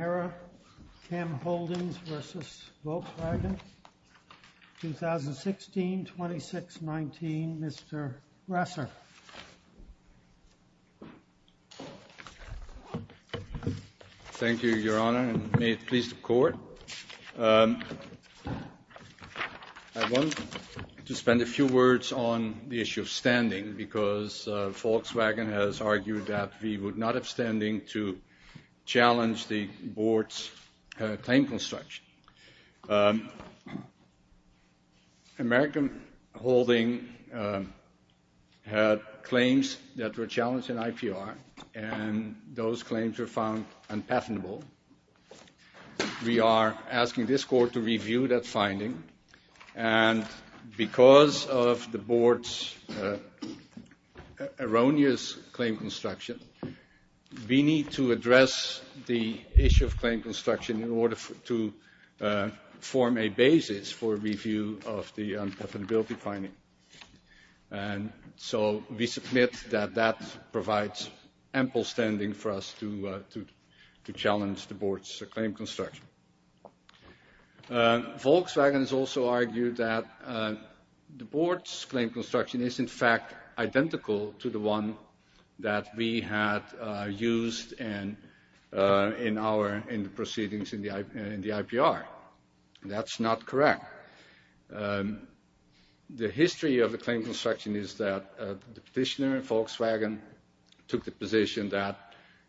VeraChem Holdings v. Volkswagen, 2016-26-19. Mr. Resser. Thank you, Your Honor, and may it please the Court. I want to spend a few words on the issue of standing, because Volkswagen has argued that we would not have standing to challenge the Board's time construction. American Holding had claims that were challenged in IPR, and those claims were found unpatentable. We are asking this Court to review that finding, and because of the Board's erroneous claim construction, we need to address the issue of claim construction in order to form a basis for review of the unpatentability finding. And so we submit that that provides ample standing for us to challenge the Board's claim construction. Volkswagen has also argued that the Board's claim construction is in fact identical to the one that we had used in our proceedings in the IPR. That's not correct. The history of the claim construction is that the petitioner in Volkswagen took the position that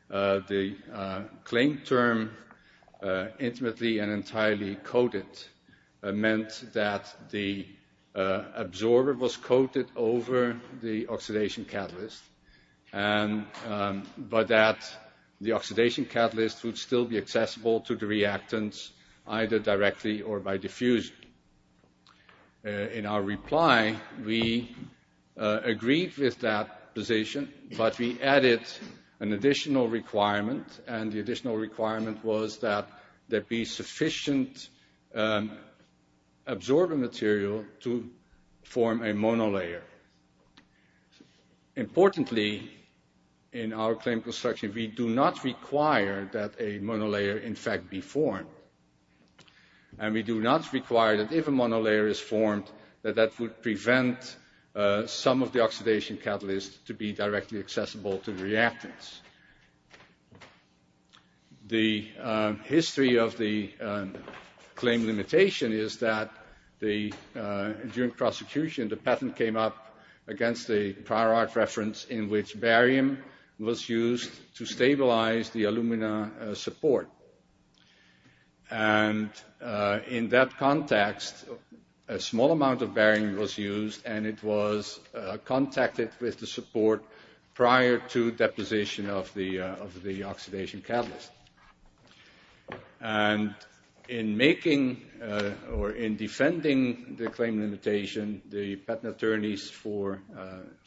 the claim term meant that the absorber was coated over the oxidation catalyst, but that the oxidation catalyst would still be accessible to the reactants either directly or by diffusion. In our reply, we agreed with that position, but we added an additional requirement, and the additional requirement was that there be sufficient absorber material to form a monolayer. Importantly, in our claim construction, we do not require that a monolayer in fact be formed. And we do not require that if a monolayer is formed, that that would prevent some of the oxidation catalyst to be directly accessible to the reactants. The history of the claim limitation is that during prosecution, the patent came up against a prior art reference in which barium was used to stabilize the alumina support. And in that context, a small amount of barium was used, and it was contacted with the support prior to deposition of the oxidation catalyst. And in making or in defending the claim limitation, the patent attorneys for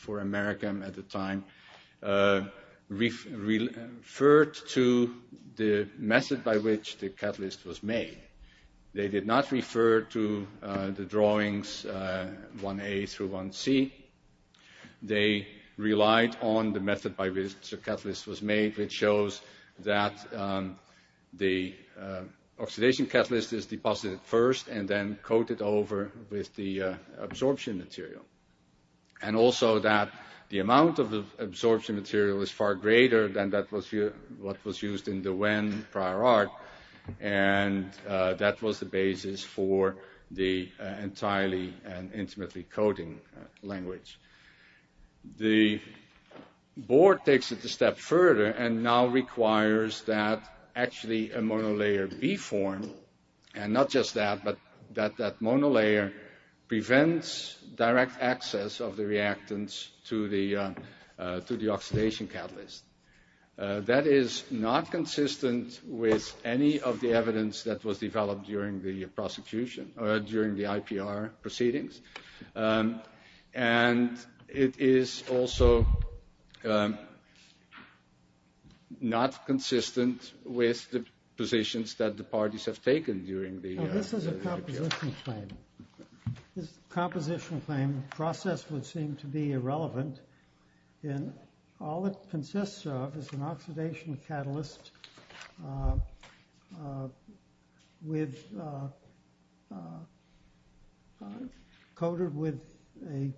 Americam at the time referred to the method by which the catalyst was made. They did not refer to the drawings 1A through 1C. They relied on the method by which the catalyst was made, which shows that the oxidation catalyst is deposited first and then coated over with the absorption material. And also that the amount of absorption material is far greater than what was used in the when prior art. And that was the basis for the entirely and intimately coating language. The board takes it a step further and now requires that actually a monolayer be formed. And not just that, but that that monolayer prevents direct access of the reactants to the oxidation catalyst. That is not consistent with any of the evidence that was developed during the IPR proceedings. And it is also not consistent with the positions that the parties have taken during the IPR. This is a composition claim. This composition claim process would seem to be irrelevant. And all it consists of is an oxidation catalyst coated with a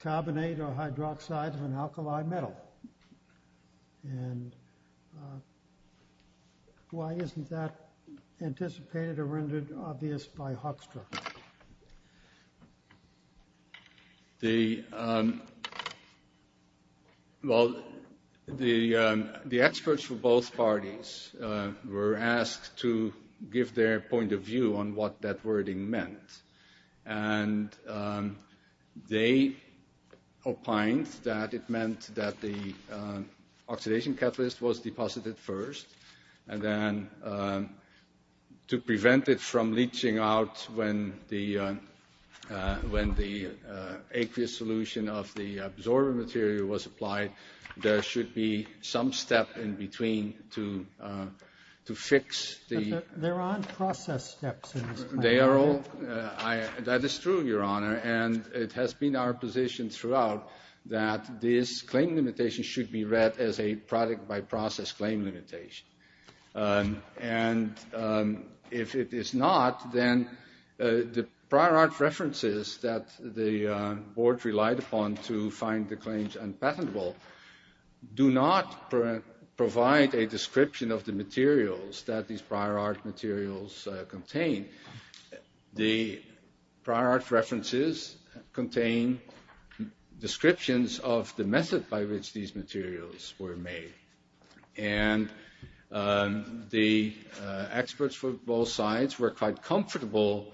carbonate or hydroxide of an alkali metal. And why isn't that anticipated or rendered obvious by Hoekstra? Well, the experts for both parties were asked to give their point of view on what that wording meant. And they opined that it meant that the oxidation catalyst was deposited first. And then to prevent it from leaching out when the aqueous solution of the absorbent material was applied, there should be some step in between to fix the... That is true, Your Honor. And it has been our position throughout that this claim limitation should be read as a product by process claim limitation. And if it is not, then the prior art references that the board relied upon to find the claims unpatentable do not provide a description of the materials that these prior art materials contain. The prior art references contain descriptions of the method by which these materials were made. And the experts for both sides were quite comfortable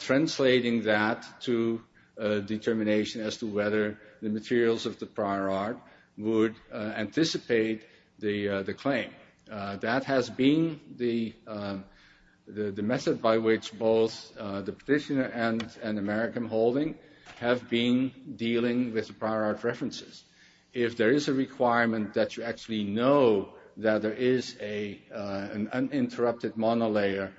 translating that to determination as to whether the materials of the prior art would anticipate the claim. That has been the method by which both the petitioner and American Holding have been dealing with prior art references. If there is a requirement that you actually know that there is an uninterrupted monolayer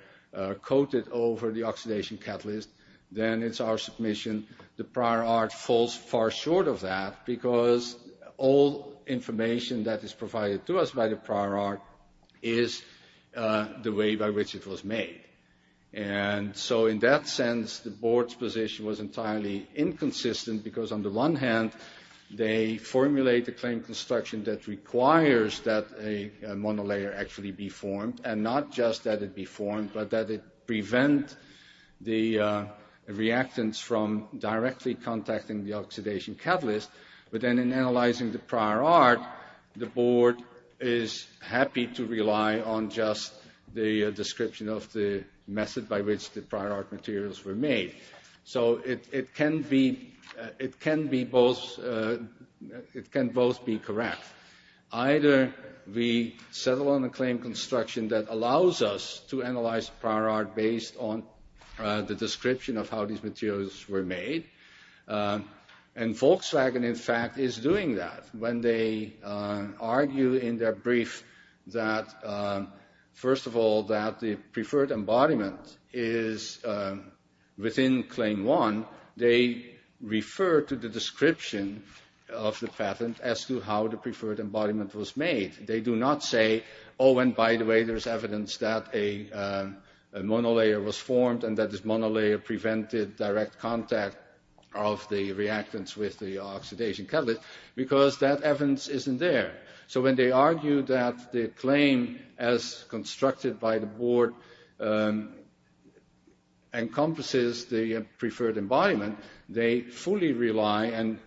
coated over the oxidation catalyst, then it's our submission the prior art falls far short of that because all information that is provided to us by the prior art is the way by which it was made. And so in that sense, the board's position was entirely inconsistent because on the one hand, they formulate the claim construction that requires that a monolayer actually be formed but then in analyzing the prior art, the board is happy to rely on just the description of the method by which the prior art materials were made. So it can both be correct. Either we settle on a claim construction that allows us to analyze prior art based on the description of how these materials were made and Volkswagen, in fact, is doing that. When they argue in their brief that, first of all, that the preferred embodiment is within Claim 1, they refer to the description of the patent as to how the preferred embodiment was made. They do not say, oh, and by the way, there's evidence that a monolayer was formed and that this monolayer prevented direct contact of the reactants with the oxidation catalyst because that evidence isn't there. So when they argue that the claim as constructed by the board encompasses the preferred embodiment, they fully rely and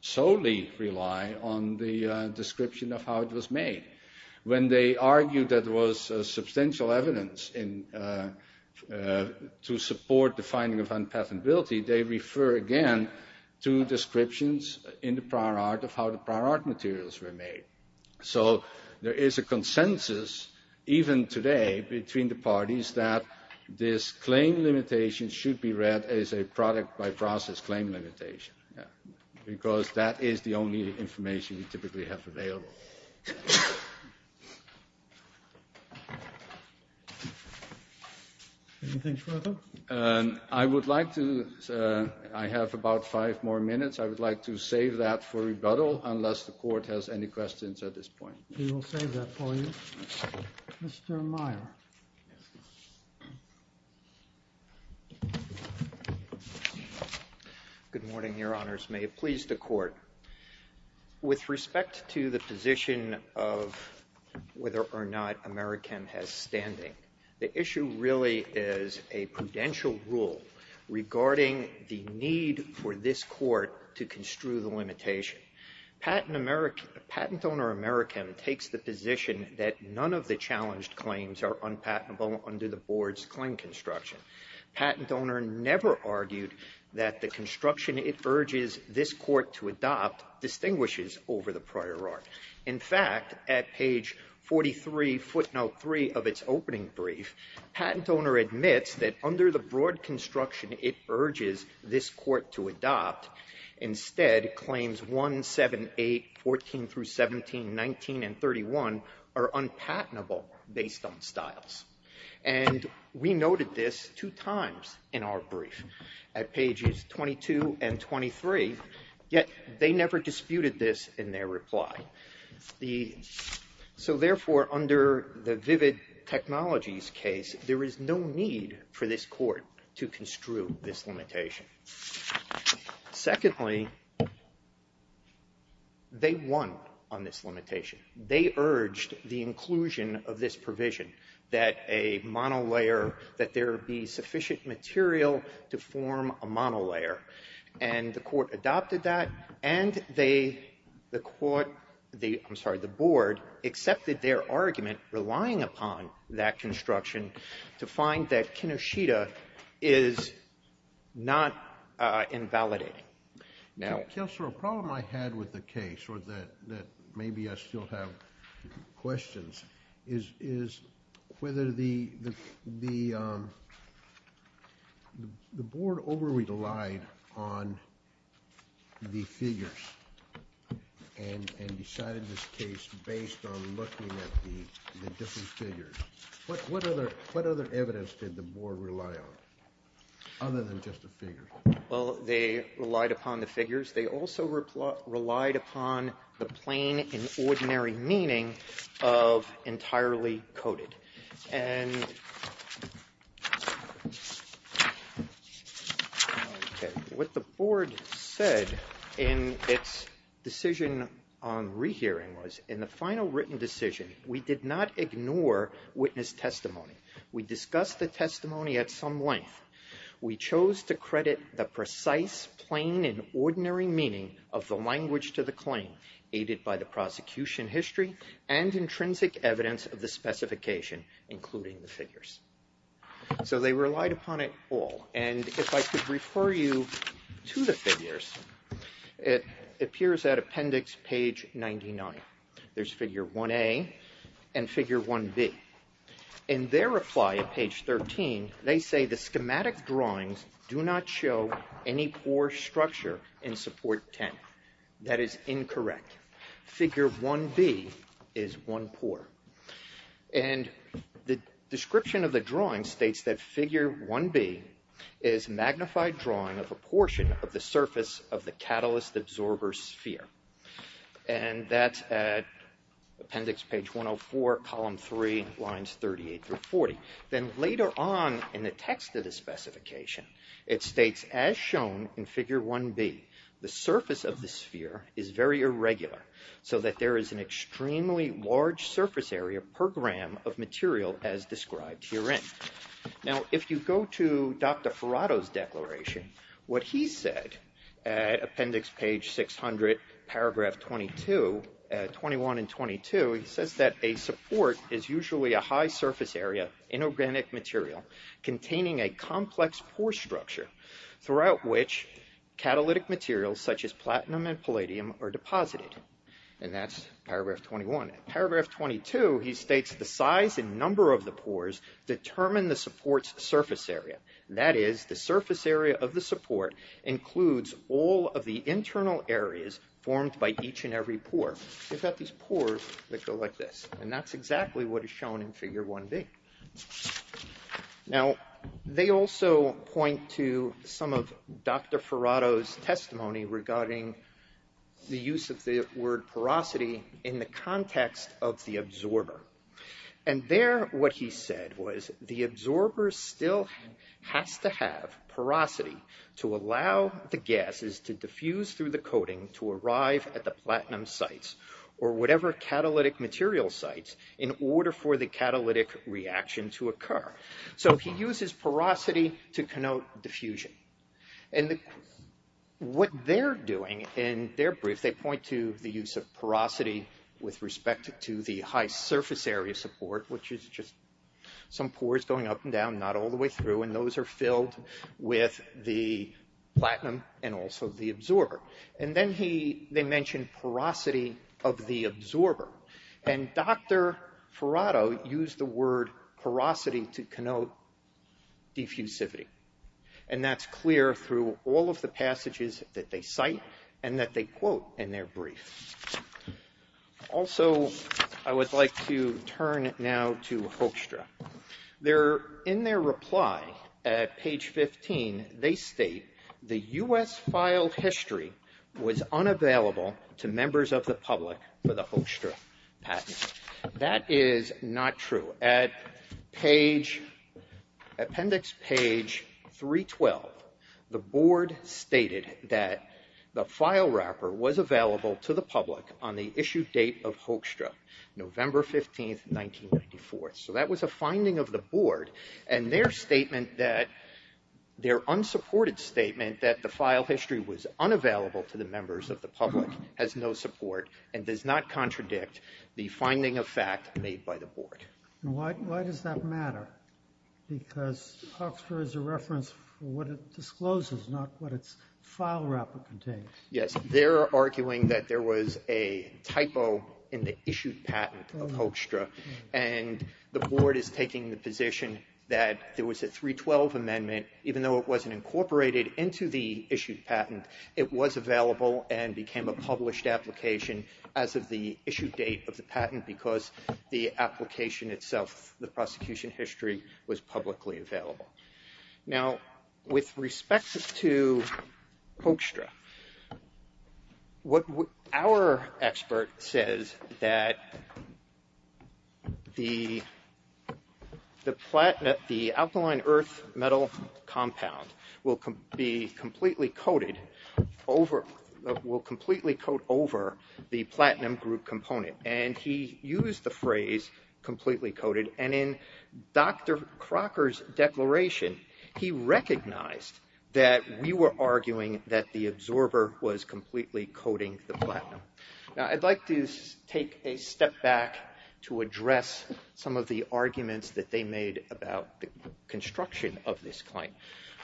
solely rely on the description of how it was made. When they argue that there was substantial evidence to support the finding of unpatentability, they refer again to descriptions in the prior art of how the prior art materials were made. So there is a consensus, even today between the parties, that this claim limitation should be read as a product by process claim limitation because that is the only information we typically have available. Anything further? I would like to, I have about five more minutes. I would like to save that for rebuttal unless the Court has any questions at this point. We will save that for you. Mr. Meyer. Good morning, Your Honors. May it please the Court. With respect to the position of whether or not Americam has standing, the issue really is a prudential rule regarding the need for this Court to construe the limitation. Patent owner Americam takes the position that none of the challenged claims are unpatentable under the board's claim construction. Patent owner never argued that the construction it urges this Court to adopt distinguishes over the prior art. In fact, at page 43 footnote 3 of its opening brief, patent owner admits that under the broad construction it urges this Court to adopt, instead claims 1, 7, 8, 14 through 17, 19, and 31 are unpatentable based on styles. And we noted this two times in our brief at pages 22 and 23, yet they never disputed this in their reply. So therefore, under the vivid technologies case, there is no need for this Court to construe this limitation. Secondly, they won on this limitation. They urged the inclusion of this provision that a monolayer, that there be sufficient material to form a monolayer. And the Court adopted that, and they, the Court, I'm sorry, the board accepted their argument relying upon that construction to find that Kinoshita is not invalidating. Now ---- Kennedy. Counselor, a problem I had with the case, or that maybe I still have questions, is whether the board over-relied on the figures and decided this case based on looking at the different figures. What other evidence did the board rely on other than just the figures? They also relied upon the plain and ordinary meaning of entirely coded. What the board said in its decision on rehearing was, in the final written decision, we did not ignore witness testimony. We discussed the testimony at some length. We chose to credit the precise, plain, and ordinary meaning of the language to the claim, aided by the prosecution history and intrinsic evidence of the specification, including the figures. So they relied upon it all, and if I could refer you to the figures, it appears at appendix page 99. There's figure 1A and figure 1B. In their reply at page 13, they say the schematic drawings do not show any pore structure in support 10. That is incorrect. Figure 1B is one pore. And the description of the drawing states that figure 1B is magnified drawing of a portion of the surface of the catalyst absorber sphere. And that's at appendix page 104, column 3, lines 38 through 40. Then later on in the text of the specification, it states, as shown in figure 1B, the surface of the sphere is very irregular so that there is an extremely large surface area per gram of material as described herein. Now, if you go to Dr. Ferrato's declaration, what he said at appendix page 600, paragraph 22, 21 and 22, he says that a support is usually a high surface area inorganic material containing a complex pore structure throughout which catalytic materials such as platinum and palladium are deposited. And that's paragraph 21. Paragraph 22, he states the size and number of the pores determine the support's surface area. That is, the surface area of the support includes all of the internal areas formed by each and every pore. We've got these pores that go like this. And that's exactly what is shown in figure 1B. Now, they also point to some of Dr. Ferrato's testimony regarding the use of the word porosity in the context of the absorber. And there what he said was the absorber still has to have porosity to allow the gases to diffuse through the coating to arrive at the platinum sites or whatever catalytic material sites in order for the catalytic reaction to occur. So he uses porosity to connote diffusion. And what they're doing in their brief, they point to the use of porosity with respect to the high surface area support, which is just some pores going up and down, not all the way through, and those are filled with the platinum and also the absorber. And then they mention porosity of the absorber. And Dr. Ferrato used the word porosity to connote diffusivity. And that's clear through all of the passages that they cite and that they quote in their brief. Also, I would like to turn now to Hoekstra. In their reply at page 15, they state, the U.S. file history was unavailable to members of the public for the Hoekstra patent. That is not true. At appendix page 312, the board stated that the file wrapper was available to the public on the issue date of Hoekstra, November 15, 1994. So that was a finding of the board, and their unsupported statement that the file history was unavailable to the members of the public has no support and does not contradict the finding of fact made by the board. Why does that matter? Because Hoekstra is a reference for what it discloses, not what its file wrapper contains. Yes. They're arguing that there was a typo in the issued patent of Hoekstra, and the board is taking the position that there was a 312 amendment, even though it wasn't incorporated into the issued patent, it was available and became a published application as of the issued date of the patent, because the application itself, the prosecution history was publicly available. Now, with respect to Hoekstra, our expert says that the absorber will completely coat over the platinum group component, and he used the phrase completely coated, and in Dr. Crocker's declaration, he recognized that we were arguing that the absorber was completely coating the platinum. Now, I'd like to take a step back to address some of the arguments that they made about the construction of this claim.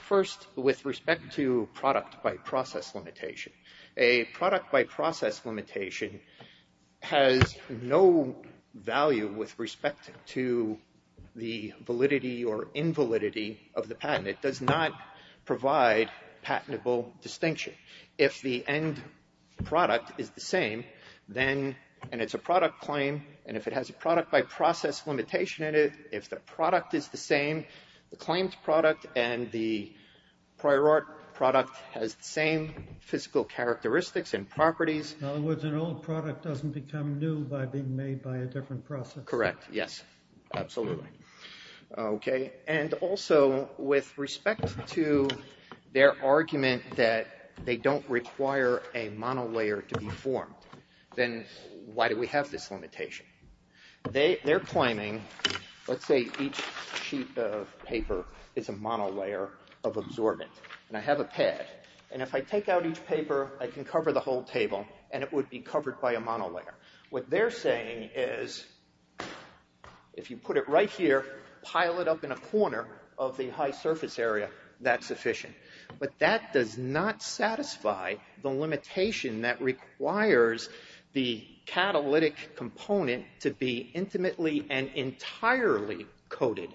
First, with respect to product by process limitation. A product by process limitation has no value with respect to the validity or invalidity of the patent. It does not provide patentable distinction. If the end product is the same, and it's a product claim, and if it has a product by process limitation in it, if the product is the same, the claimed product and the prior art product has the same physical characteristics and properties. In other words, an old product doesn't become new by being made by a different process. Correct, yes, absolutely. And also, with respect to their argument that they don't require a monolayer to be formed, then why do we have this limitation? They're claiming, let's say each sheet of paper is a monolayer of absorbent, and I have a pad, and if I take out each paper, I can cover the whole table, and it would be covered by a monolayer. What they're saying is, if you put it right here, pile it up in a corner of the high surface area, that's sufficient. But that does not satisfy the limitation that requires the catalytic component to be intimately and entirely coated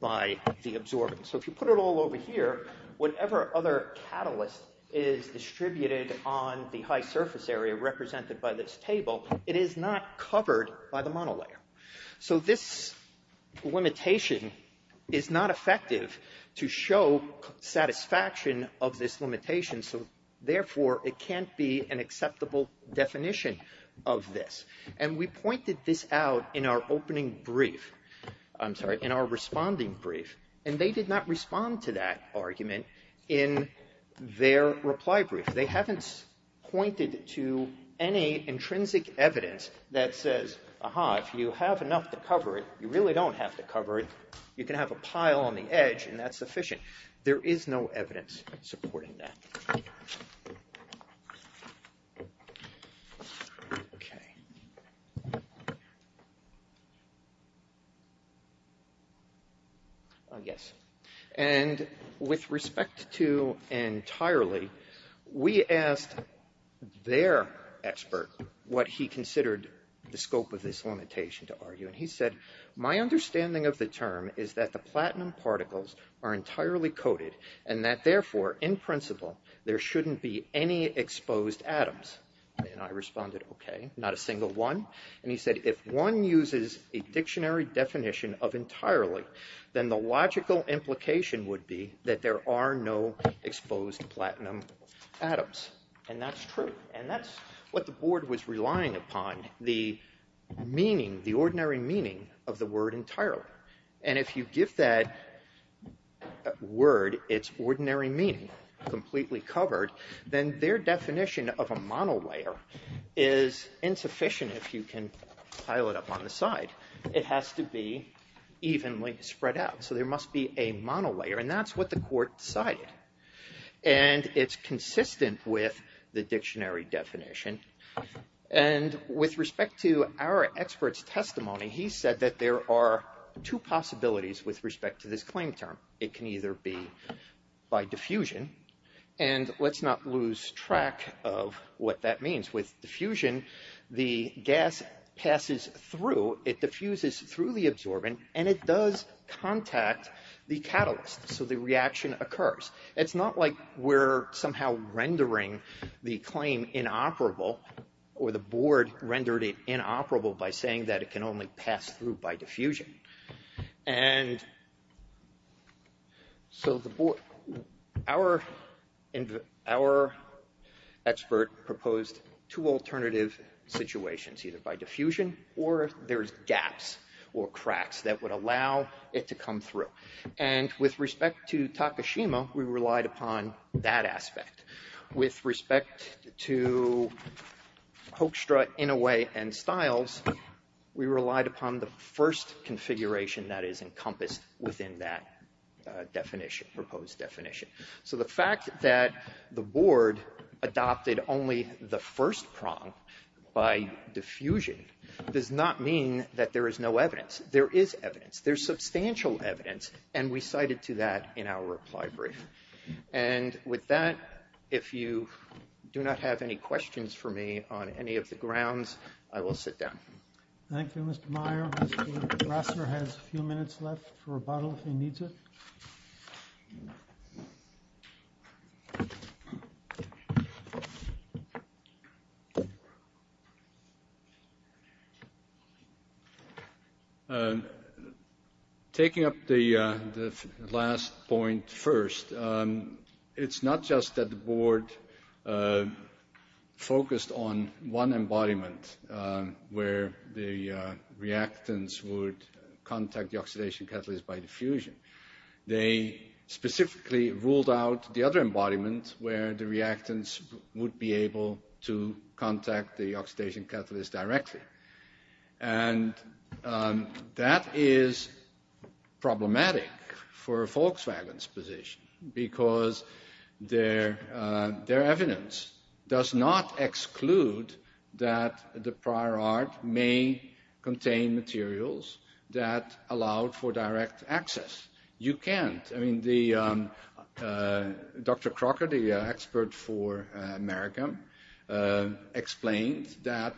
by the absorbent. So if you put it all over here, whatever other catalyst is distributed on the high surface area represented by this table, it is not covered by the monolayer. So this limitation is not effective to show satisfaction of this limitation, so therefore it can't be an acceptable definition of this. And we pointed this out in our opening brief, I'm sorry, in our responding brief, and they did not respond to that argument in their reply brief. They haven't pointed to any intrinsic evidence that says, aha, if you have enough to cover it, you really don't have to cover it, you can have a pile on the edge, and that's sufficient. There is no evidence supporting that. Okay. Yes. And with respect to entirely, we asked their expert what he considered the scope of this limitation to argue, and he said, my understanding of the term is that the platinum particles are entirely coated, and that therefore in principle there shouldn't be any exposed atoms. And I responded, okay, not a single one. And he said, if one uses a dictionary definition of entirely, then the logical implication would be that there are no exposed platinum atoms. And that's true. And that's what the board was relying upon, the meaning, the ordinary meaning of the word entirely. And if you give that word its ordinary meaning, completely covered, then their definition of a monolayer is insufficient if you can pile it up on the side. It has to be evenly spread out. So there must be a monolayer, and that's what the court decided. And it's consistent with the dictionary definition. And with respect to our expert's testimony, he said that there are two possibilities with respect to this claim term. It can either be by diffusion, and let's not lose track of what that means. With diffusion, the gas passes through, it diffuses through the absorbent, and it does contact the catalyst. So the reaction occurs. It's not like we're somehow rendering the claim inoperable, or the board rendered it inoperable by saying that it can only pass through by diffusion. And so the board, our expert proposed two alternative situations, either by diffusion or there's gaps or cracks that would allow it to come through. And with respect to Takashima, we relied upon that aspect. With respect to Hoekstra, Inouye, and Stiles, we relied upon the first configuration that is encompassed within that proposed definition. So the fact that the board adopted only the first prong by diffusion does not mean that there is no evidence. There is evidence. There's substantial evidence, and we cited to that in our reply brief. And with that, if you do not have any questions for me on any of the grounds, I will sit down. Thank you, Mr. Meyer. Rassler has a few minutes left for rebuttal if he needs it. Taking up the last point first, it's not just that the board focused on one embodiment where the reactants would contact the oxidation catalyst by diffusion. They specifically ruled out the other embodiment where the reactants would be able to contact the oxidation catalyst directly. And that is problematic for Volkswagen's position because their evidence does not exclude that the prior art may contain materials that allowed for direct access. You can't. I mean, the Dr. Crocker, the expert for America, explained that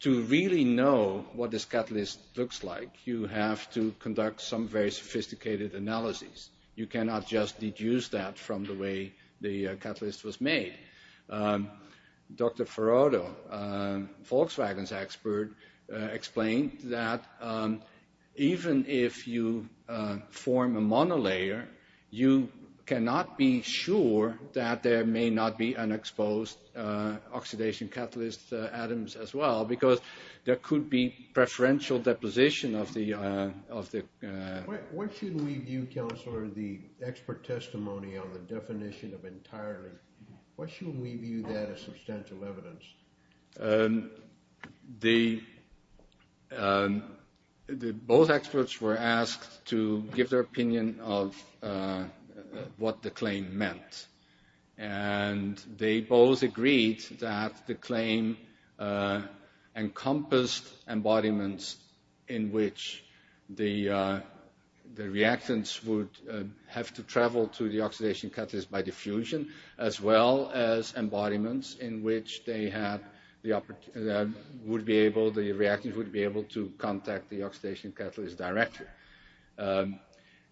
to really know what this catalyst looks like, you have to conduct some very sophisticated analysis. You cannot just deduce that from the way the catalyst was made. Dr. Farodo, Volkswagen's expert, explained that even if you form a monolayer, you cannot be sure that there may not be unexposed oxidation catalyst atoms as well because there could be preferential deposition of the... What should we view, counselor, the expert testimony on the definition of entirely? What should we view that as substantial evidence? Both experts were asked to give their opinion of what the claim meant. And they both agreed that the claim encompassed embodiments in which the reactants would have to contact the oxidation catalyst directly.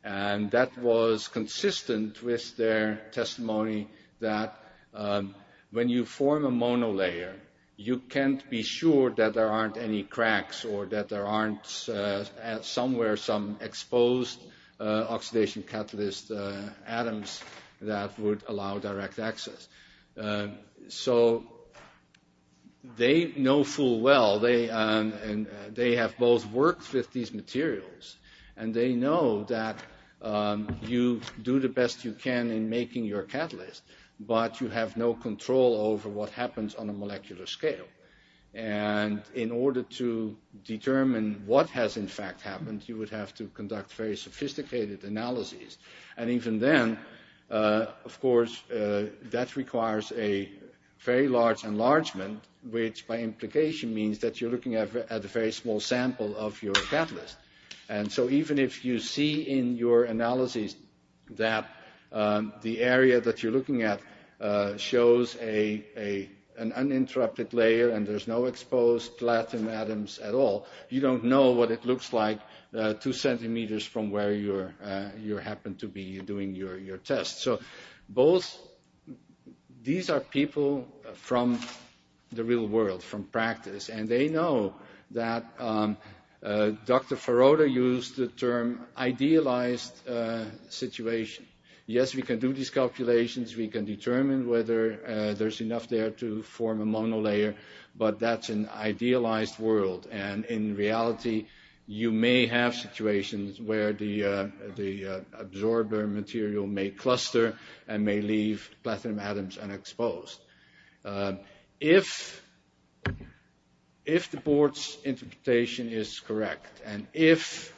And that was consistent with their testimony that when you form a monolayer, you can't be sure that there aren't any cracks or that there aren't somewhere some exposed oxidation catalyst atoms that would allow direct access. So they know full well, they have both worked with these materials, and they know that you do the best you can in making your catalyst, but you have no control over what happens on a molecular scale. And in order to determine what has in fact happened, you would have to conduct very sophisticated analyses. And even then, of course, that requires a very large enlargement, which by implication means that you're looking at a very small sample of your catalyst. And so even if you see in your analyses that the area that you're looking at shows an uninterrupted layer and there's no exposed platinum atoms at all, you don't know what it looks like two centimeters from where you happen to be doing your test. So these are people from the real world, from practice, and they know that Dr. Faroda used the term idealized situation. Yes, we can do these calculations, we can determine whether there's enough there to form a monolayer, but that's an idealized world. And in reality, you may have situations where the absorber material may cluster and may leave platinum atoms unexposed. If the board's interpretation is correct, and if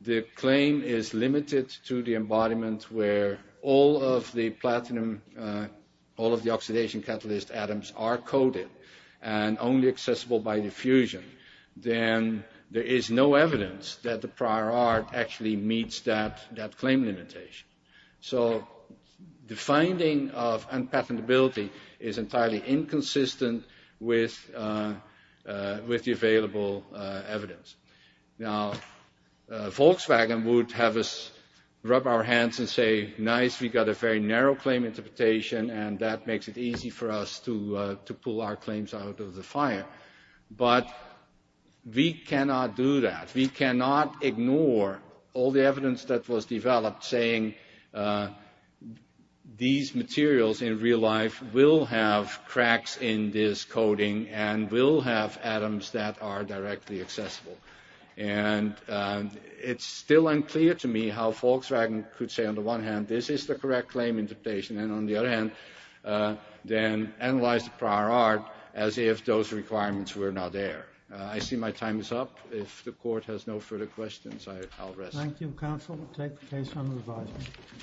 the claim is limited to the embodiment where all of the platinum, all of the oxidation catalyst atoms are coated and only accessible by diffusion, then there is no evidence that the prior art actually meets that claim limitation. So the finding of unpatentability is entirely inconsistent with the available evidence. Now, Volkswagen would have us rub our hands and say, nice, we got a very narrow claim interpretation and that makes it easy for us to pull our claims out of the fire. But we cannot do that. We cannot ignore all the evidence that was developed saying these materials in real life will have cracks in this coating and will have atoms that are directly accessible. And it's still unclear to me how Volkswagen could say, on the one hand, this is the correct claim interpretation, and on the other hand, then analyze the prior art as if those requirements were not there. I see my time is up. If the court has no further questions, I'll rest.